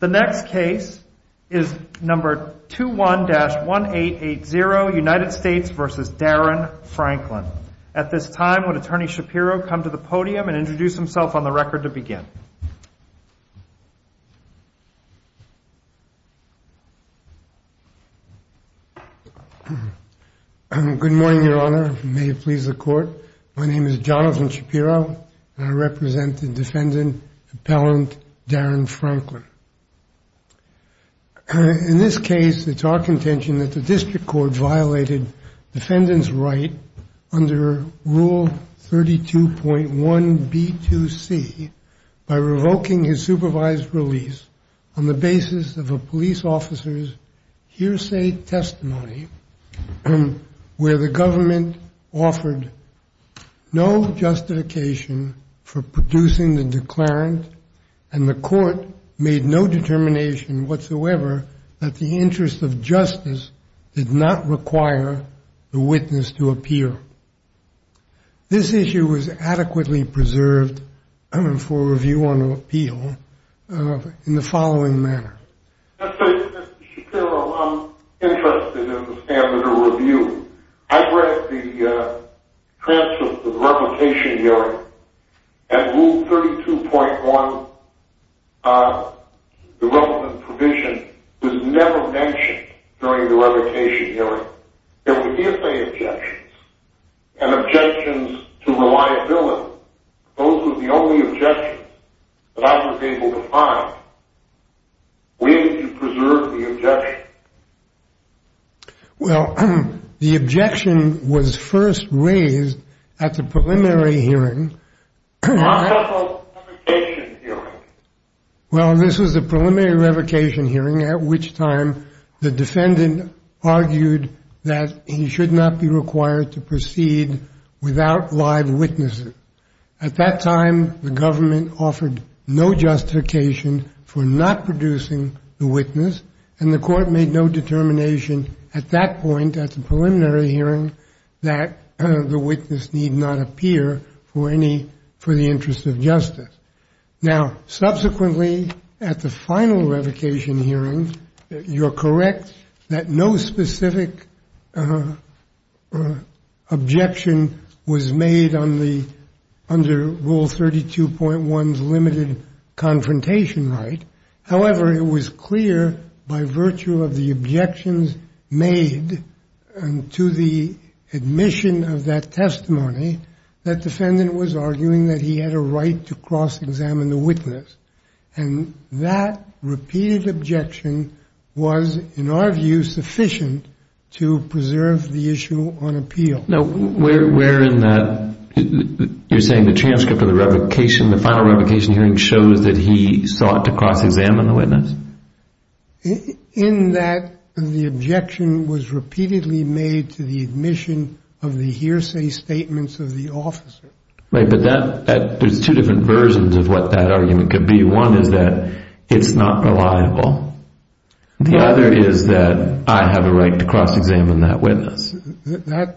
The next case is number 21-1880 United States v. Darren Franklin. At this time, would Attorney Shapiro come to the podium and introduce himself on the record to begin? Good morning, Your Honor. May it please the Court. My name is Jonathan Shapiro, and I represent the defendant, Appellant Darren Franklin. In this case, it's our contention that the District Court violated the defendant's right under Rule 32.1b2c by revoking his supervised release on the basis of a police officer's No justification for producing the declarant, and the Court made no determination whatsoever that the interest of justice did not require the witness to appear. This issue was adequately preserved for review on appeal in the following manner. Mr. Shapiro, I'm interested in the standard of review. I've read the transcript of the revocation hearing, and Rule 32.1, the relevant provision, was never mentioned during the revocation hearing. There were DFA objections, and objections to reliability. Those were the only objections that I was able to find. Where did you preserve the objections? Well, the objection was first raised at the preliminary hearing. What about the revocation hearing? Well, this was the preliminary revocation hearing, at which time the defendant argued that he should not be required to proceed without live witnesses. At that time, the government offered no justification for not producing the witness, and the Court made no determination at that point, at the preliminary hearing, that the witness need not appear for the interest of justice. Now, subsequently, at the final revocation hearing, you're correct that no specific objection was made under Rule 32.1's limited confrontation right. However, it was clear, by virtue of the objections made to the admission of that testimony, that defendant was arguing that he had a right to cross-examine the witness. And that repeated objection was, in our view, sufficient to preserve the issue on appeal. Now, where in that, you're saying the transcript of the revocation, the final revocation hearing, shows that he sought to cross-examine the witness? In that the objection was repeatedly made to the admission of the hearsay statements of the officer. Right, but that, there's two different versions of what that argument could be. One is that it's not reliable. The other is that I have a right to cross-examine that witness. That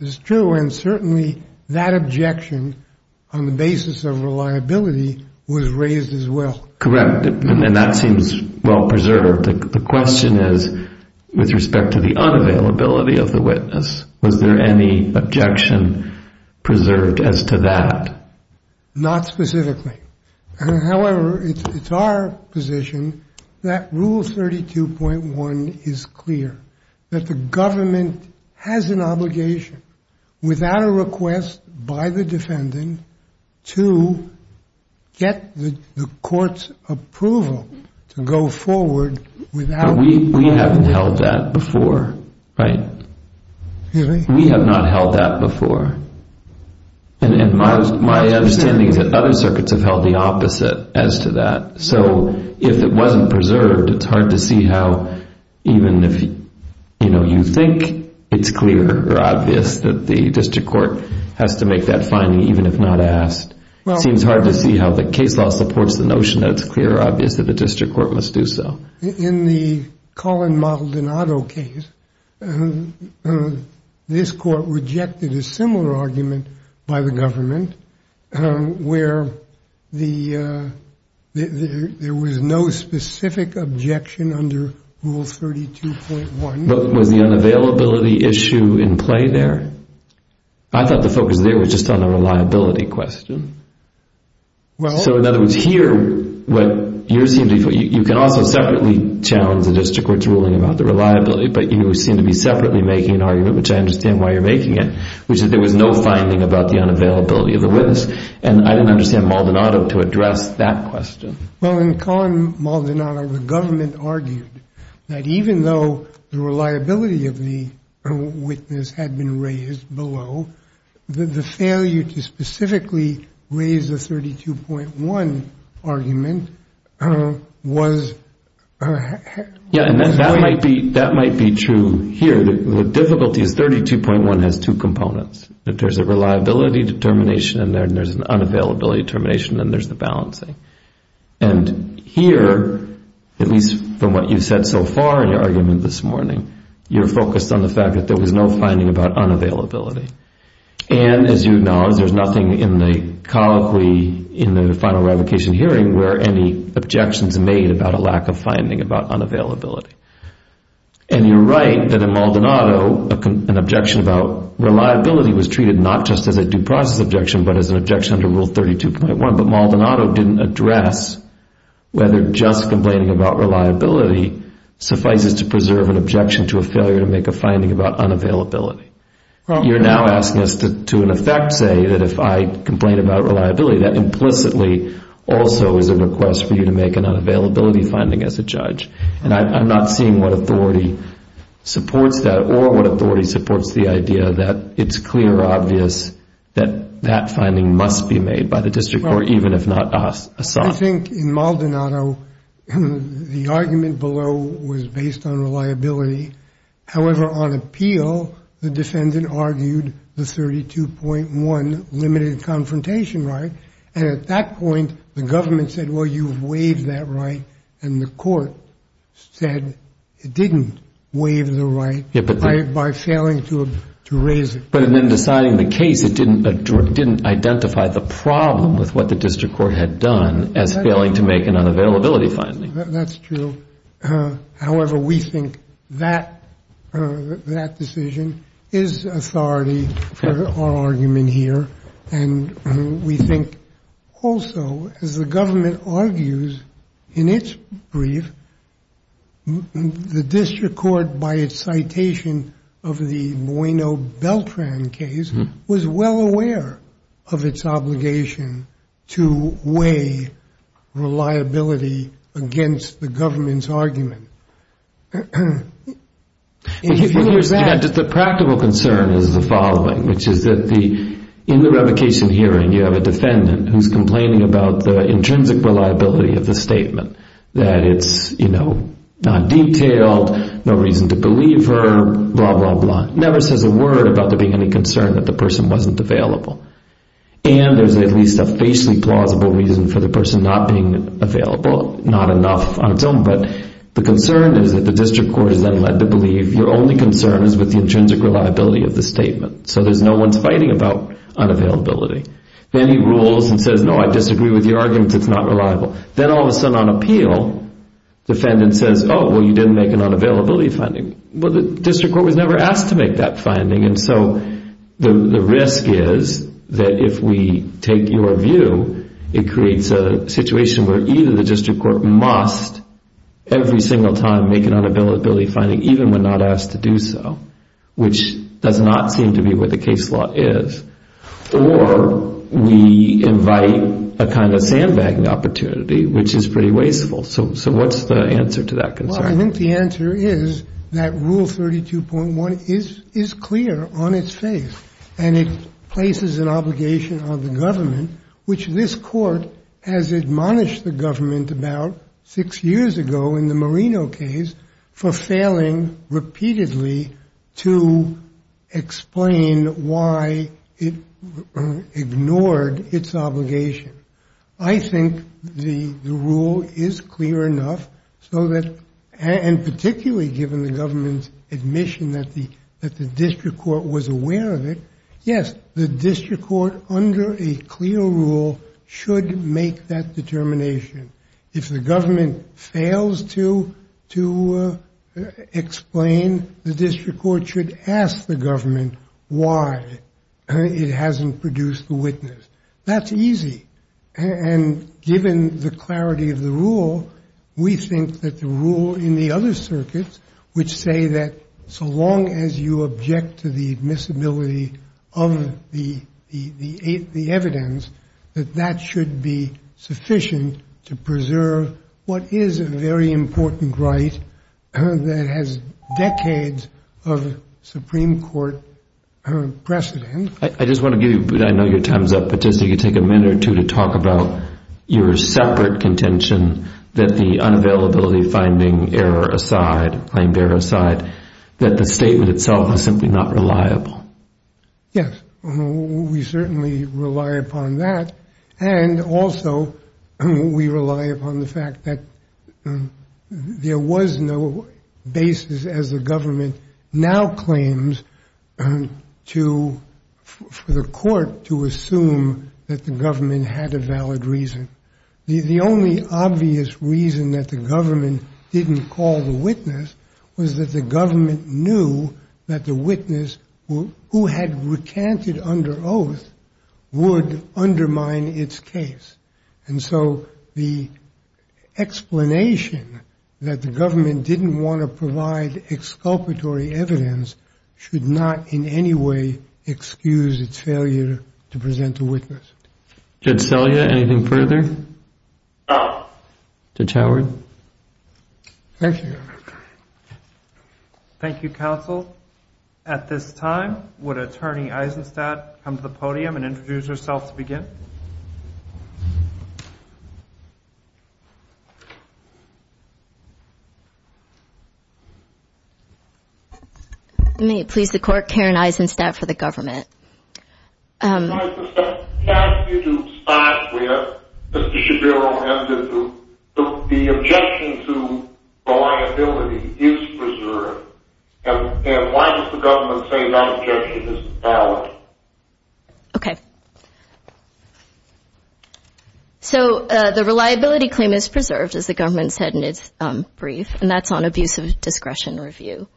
is true, and certainly that objection, on the basis of reliability, was raised as well. Correct, and that seems well-preserved. The question is, with respect to the unavailability of the witness, was there any objection preserved as to that? Not specifically. However, it's our position that Rule 32.1 is clear, that the government has an obligation, without a request by the defendant, to get the court's approval to go forward without— We haven't held that before, right? Really? We have not held that before. And my understanding is that other circuits have held the opposite as to that. So if it wasn't preserved, it's hard to see how, even if you think it's clear or obvious, that the district court has to make that finding, even if not asked. It seems hard to see how the case law supports the notion that it's clear or obvious that the district court must do so. In the Colin Maldonado case, this court rejected a similar argument by the government, where there was no specific objection under Rule 32.1. But was the unavailability issue in play there? I thought the focus there was just on the reliability question. So in other words, here, you can also separately challenge the district court's ruling about the reliability, but you seem to be separately making an argument, which I understand why you're making it, which is there was no finding about the unavailability of the witness. And I didn't understand Maldonado to address that question. Well, in Colin Maldonado, the government argued that even though the reliability of the witness had been raised below, the failure to specifically raise the 32.1 argument was... Yeah, and that might be true here. The difficulty is 32.1 has two components. There's a reliability determination in there, and there's an unavailability determination, and there's the balancing. And here, at least from what you've said so far in your argument this morning, you're focused on the fact that there was no finding about unavailability. And as you acknowledge, there's nothing in the final revocation hearing where any objections are made about a lack of finding about unavailability. And you're right that in Maldonado, an objection about reliability was treated not just as a due process objection, but as an objection under Rule 32.1. But Maldonado didn't address whether just complaining about reliability suffices to preserve an objection to a failure to make a finding about unavailability. You're now asking us to, in effect, say that if I complain about reliability, that implicitly also is a request for you to make an unavailability finding as a judge. And I'm not seeing what authority supports that or what authority supports the idea that it's clear or obvious that that finding must be made by the district court, even if not assigned. I think in Maldonado, the argument below was based on reliability. However, on appeal, the defendant argued the 32.1 limited confrontation right. And at that point, the government said, well, you've waived that right, and the court said it didn't waive the right by failing to raise it. But in then deciding the case, it didn't identify the problem with what the district court had done as failing to make an unavailability finding. That's true. However, we think that decision is authority for our argument here. And we think also, as the government argues in its brief, that the district court, by its citation of the Bueno-Beltran case, was well aware of its obligation to weigh reliability against the government's argument. The practical concern is the following, which is that in the revocation hearing, you have a defendant who's complaining about the intrinsic reliability of the statement, that it's not detailed, no reason to believe her, blah, blah, blah. Never says a word about there being any concern that the person wasn't available. And there's at least a facially plausible reason for the person not being available. Not enough on its own, but the concern is that the district court is then led to believe your only concern is with the intrinsic reliability of the statement. So there's no one fighting about unavailability. Then he rules and says, no, I disagree with your argument, it's not reliable. Then all of a sudden, on appeal, the defendant says, oh, well, you didn't make an unavailability finding. Well, the district court was never asked to make that finding, and so the risk is that if we take your view, it creates a situation where either the district court must, every single time, make an unavailability finding, even when not asked to do so, which does not seem to be what the case law is, or we invite a kind of sandbagging opportunity, which is pretty wasteful. So what's the answer to that concern? Well, I think the answer is that Rule 32.1 is clear on its face, and it places an obligation on the government, which this court has admonished the government about six years ago in the Marino case for failing repeatedly to explain why it ignored its obligation. I think the rule is clear enough so that, and particularly given the government's admission that the district court was aware of it, yes, the district court, under a clear rule, should make that determination. If the government fails to explain, the district court should ask the government why it hasn't produced the witness. That's easy, and given the clarity of the rule, we think that the rule in the other circuits, which say that so long as you object to the admissibility of the evidence, that that should be sufficient to preserve what is a very important right that has decades of Supreme Court precedent. I just want to give you, I know your time's up, but just if you could take a minute or two to talk about your separate contention that the unavailability finding error aside, claim bearer aside, that the statement itself is simply not reliable. Yes, we certainly rely upon that, and also we rely upon the fact that there was no basis, as the government now claims, for the court to assume that the government had a valid reason. The only obvious reason that the government didn't call the witness was that the government knew that the witness, who had recanted under oath, would undermine its case, and so the explanation that the government didn't want to provide exculpatory evidence should not in any way excuse its failure to present the witness. Judge Selya, anything further? Judge Howard? Thank you, Your Honor. Thank you, counsel. At this time, would Attorney Eisenstadt come to the podium and introduce herself to begin? May it please the Court, Karen Eisenstadt for the government. Ms. Eisenstadt, can I ask you to stop where Mr. Shabiro ended? The objection to reliability is preserved, and why does the government say that objection is valid? Okay. So the reliability claim is preserved, as the government said in its brief, and that's on abuse of discretion review.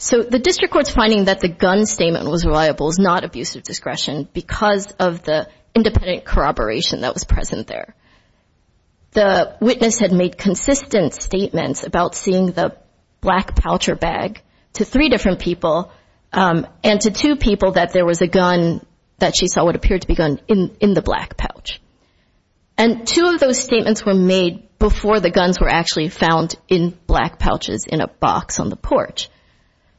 So the district court's finding that the gun statement was reliable is not abuse of discretion because of the independent corroboration that was present there. The witness had made consistent statements about seeing the black pouch or bag to three different people and to two people that there was a gun that she saw what appeared to be a gun in the black pouch, and two of those statements were made before the guns were actually found in black pouches in a box on the porch.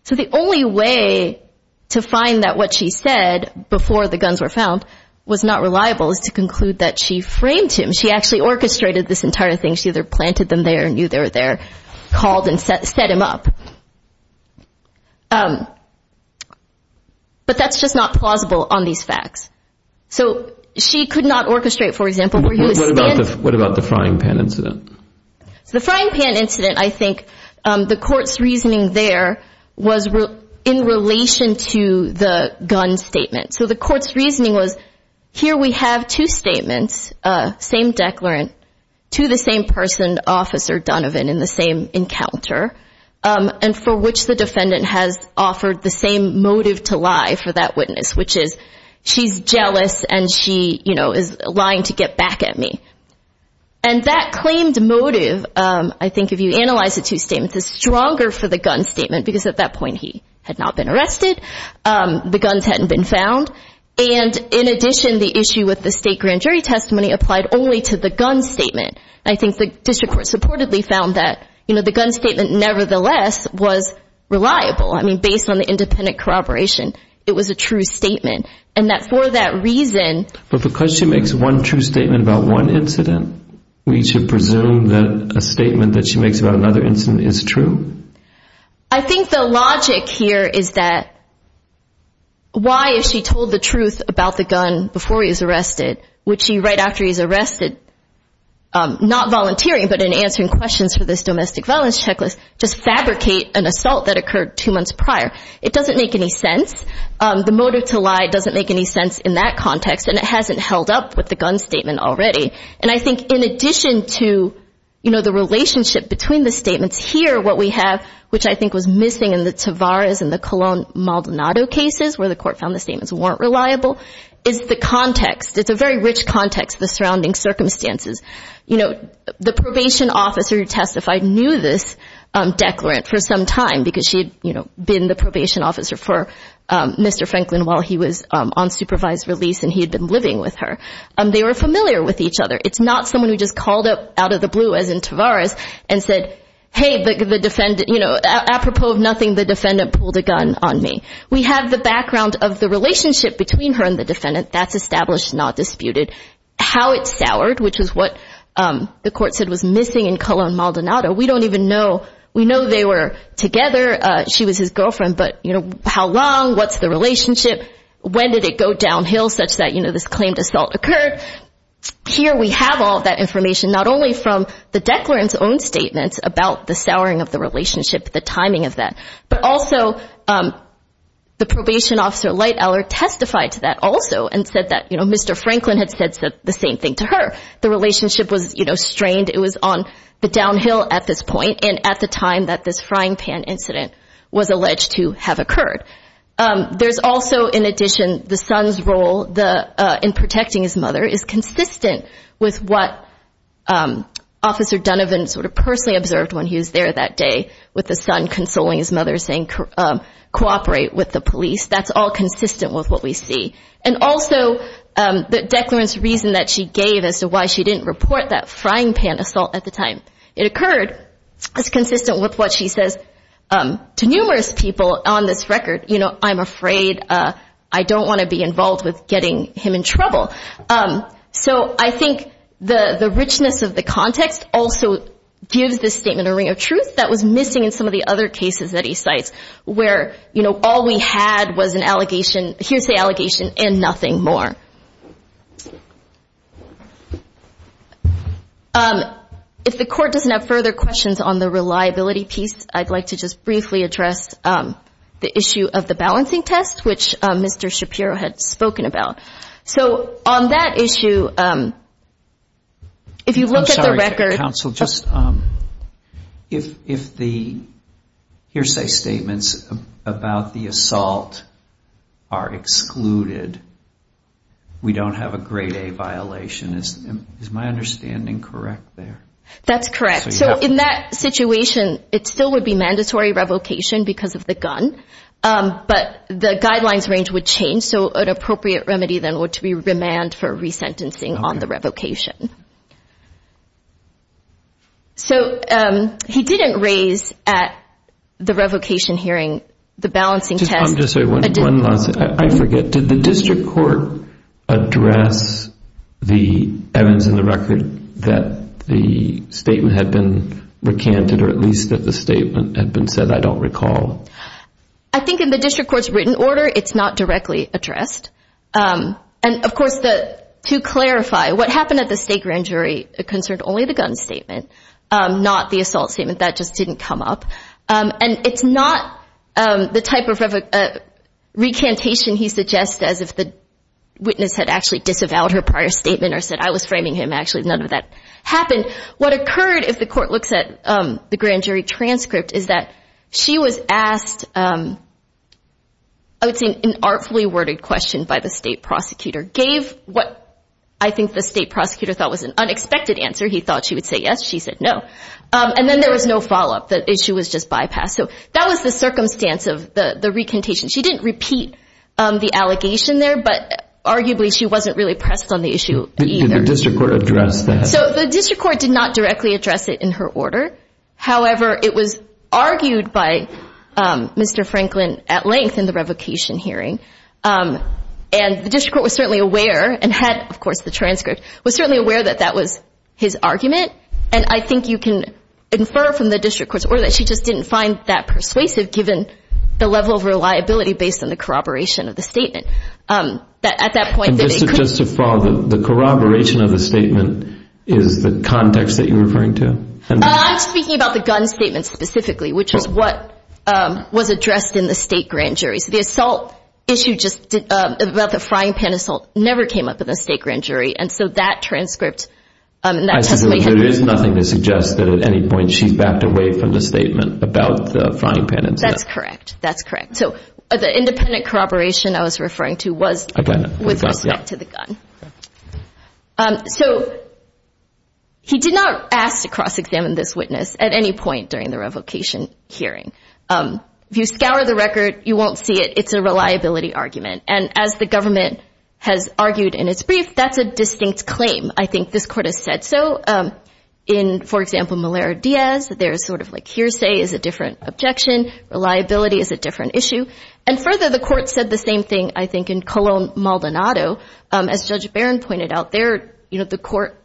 So the only way to find that what she said before the guns were found was not reliable is to conclude that she framed him. She actually orchestrated this entire thing. She either planted them there, knew they were there, called and set him up. But that's just not plausible on these facts. So she could not orchestrate, for example, where he was standing. What about the frying pan incident? The frying pan incident, I think the court's reasoning there was in relation to the gun statement. So the court's reasoning was here we have two statements, same declarant, to the same person, Officer Donovan, in the same encounter, and for which the defendant has offered the same motive to lie for that witness, which is she's jealous and she is lying to get back at me. And that claimed motive, I think if you analyze the two statements, is stronger for the gun statement because at that point he had not been arrested, the guns hadn't been found, and in addition the issue with the state grand jury testimony applied only to the gun statement. I think the district court supportedly found that the gun statement nevertheless was reliable. I mean, based on the independent corroboration, it was a true statement. And that for that reason. But because she makes one true statement about one incident, we should presume that a statement that she makes about another incident is true? I think the logic here is that why if she told the truth about the gun before he was arrested, would she right after he was arrested, not volunteering but in answering questions for this domestic violence checklist, just fabricate an assault that occurred two months prior? It doesn't make any sense. The motive to lie doesn't make any sense in that context, and it hasn't held up with the gun statement already. And I think in addition to, you know, the relationship between the statements here, what we have, which I think was missing in the Tavares and the Colon Maldonado cases, where the court found the statements weren't reliable, is the context. It's a very rich context, the surrounding circumstances. You know, the probation officer who testified knew this declarant for some time because she had been the probation officer for Mr. Franklin while he was on supervised release and he had been living with her. They were familiar with each other. It's not someone who just called out of the blue, as in Tavares, and said, hey, the defendant, you know, apropos of nothing, the defendant pulled a gun on me. We have the background of the relationship between her and the defendant. That's established, not disputed. How it soured, which is what the court said was missing in Colon Maldonado, we don't even know. We know they were together. She was his girlfriend, but, you know, how long? What's the relationship? When did it go downhill such that, you know, this claimed assault occurred? Here we have all that information, not only from the declarant's own statements about the souring of the relationship, the timing of that, but also the probation officer, Light Allard, testified to that also and said that, you know, Mr. Franklin had said the same thing to her. The relationship was, you know, strained. It was on the downhill at this point and at the time that this frying pan incident was alleged to have occurred. There's also, in addition, the son's role in protecting his mother is consistent with what Officer Dunovan sort of personally observed when he was there that day with the son consoling his mother, saying cooperate with the police. That's all consistent with what we see. And also the declarant's reason that she gave as to why she didn't report that frying pan assault at the time it occurred is consistent with what she says to numerous people on this record, you know, I'm afraid, I don't want to be involved with getting him in trouble. So I think the richness of the context also gives this statement a ring of truth that was missing in some of the other cases that he cites where, you know, all we had was an allegation, hearsay allegation, and nothing more. If the Court doesn't have further questions on the reliability piece, I'd like to just briefly address the issue of the balancing test, which Mr. Shapiro had spoken about. So on that issue, if you look at the record. Counsel, just if the hearsay statements about the assault are excluded, we don't have a grade A violation. Is my understanding correct there? That's correct. So in that situation, it still would be mandatory revocation because of the gun, but the guidelines range would change. So an appropriate remedy then would be remand for resentencing on the revocation. So he didn't raise at the revocation hearing the balancing test. I'm just going to say one last thing. I forget. Did the District Court address the evidence in the record that the statement had been recanted or at least that the statement had been said? I don't recall. I think in the District Court's written order, it's not directly addressed. And, of course, to clarify, what happened at the state grand jury concerned only the gun statement, not the assault statement. That just didn't come up. And it's not the type of recantation he suggests as if the witness had actually disavowed her prior statement or said, I was framing him. Actually, none of that happened. What occurred, if the court looks at the grand jury transcript, is that she was asked, I would say, an artfully worded question by the state prosecutor, gave what I think the state prosecutor thought was an unexpected answer. He thought she would say yes. She said no. And then there was no follow-up. The issue was just bypassed. So that was the circumstance of the recantation. She didn't repeat the allegation there, but arguably she wasn't really pressed on the issue either. Did the District Court address that? So the District Court did not directly address it in her order. However, it was argued by Mr. Franklin at length in the revocation hearing. And the District Court was certainly aware and had, of course, the transcript, was certainly aware that that was his argument. And I think you can infer from the District Court's order that she just didn't find that persuasive, given the level of reliability based on the corroboration of the statement. And just to follow, the corroboration of the statement is the context that you're referring to? I'm speaking about the gun statement specifically, which is what was addressed in the state grand jury. So the assault issue about the frying pan assault never came up in the state grand jury. And so that transcript and that testimony had nothing to suggest that at any point she backed away from the statement about the frying pan incident. That's correct. That's correct. So the independent corroboration I was referring to was with respect to the gun. So he did not ask to cross-examine this witness at any point during the revocation hearing. If you scour the record, you won't see it. It's a reliability argument. And as the government has argued in its brief, that's a distinct claim. I think this Court has said so. In, for example, Malera-Diaz, there's sort of like hearsay is a different objection. Reliability is a different issue. And further, the Court said the same thing, I think, in Colon-Maldonado. As Judge Barron pointed out there, you know, the Court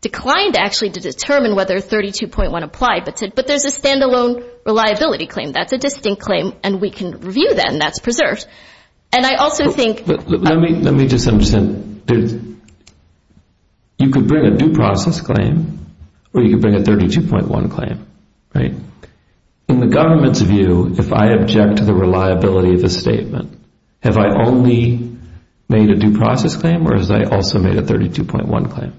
declined actually to determine whether 32.1 applied, but said, but there's a standalone reliability claim. That's a distinct claim, and we can review that, and that's preserved. And I also think – Let me just understand. You could bring a due process claim or you could bring a 32.1 claim, right? In the government's view, if I object to the reliability of a statement, have I only made a due process claim or has I also made a 32.1 claim?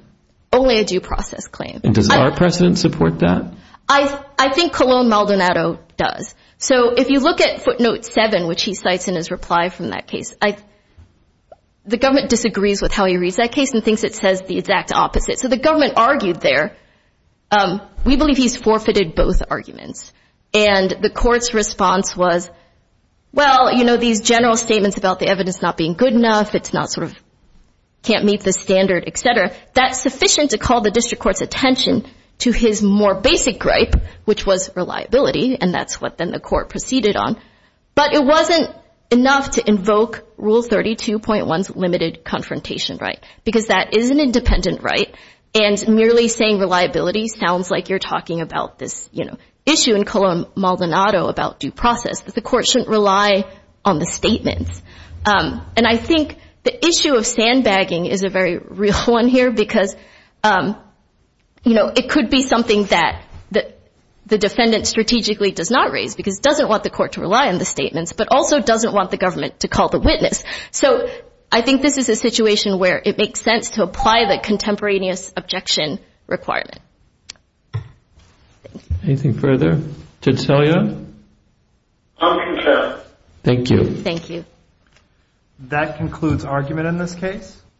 Only a due process claim. And does our precedent support that? I think Colon-Maldonado does. So if you look at footnote 7, which he cites in his reply from that case, the government disagrees with how he reads that case and thinks it says the exact opposite. So the government argued there. We believe he's forfeited both arguments. And the Court's response was, well, you know, these general statements about the evidence not being good enough, it's not sort of – can't meet the standard, et cetera, that's sufficient to call the District Court's attention to his more basic gripe, which was reliability, and that's what then the Court proceeded on. But it wasn't enough to invoke Rule 32.1's limited confrontation right, because that is an independent right, and merely saying reliability sounds like you're talking about this, you know, issue in Colon-Maldonado about due process, that the Court shouldn't rely on the statements. And I think the issue of sandbagging is a very real one here because, you know, it could be something that the defendant strategically does not raise because it doesn't want the Court to rely on the statements but also doesn't want the government to call the witness. So I think this is a situation where it makes sense to apply the contemporaneous objection requirement. Thank you. Anything further? Judge Salia? I'm concerned. Thank you. Thank you. That concludes argument in this case.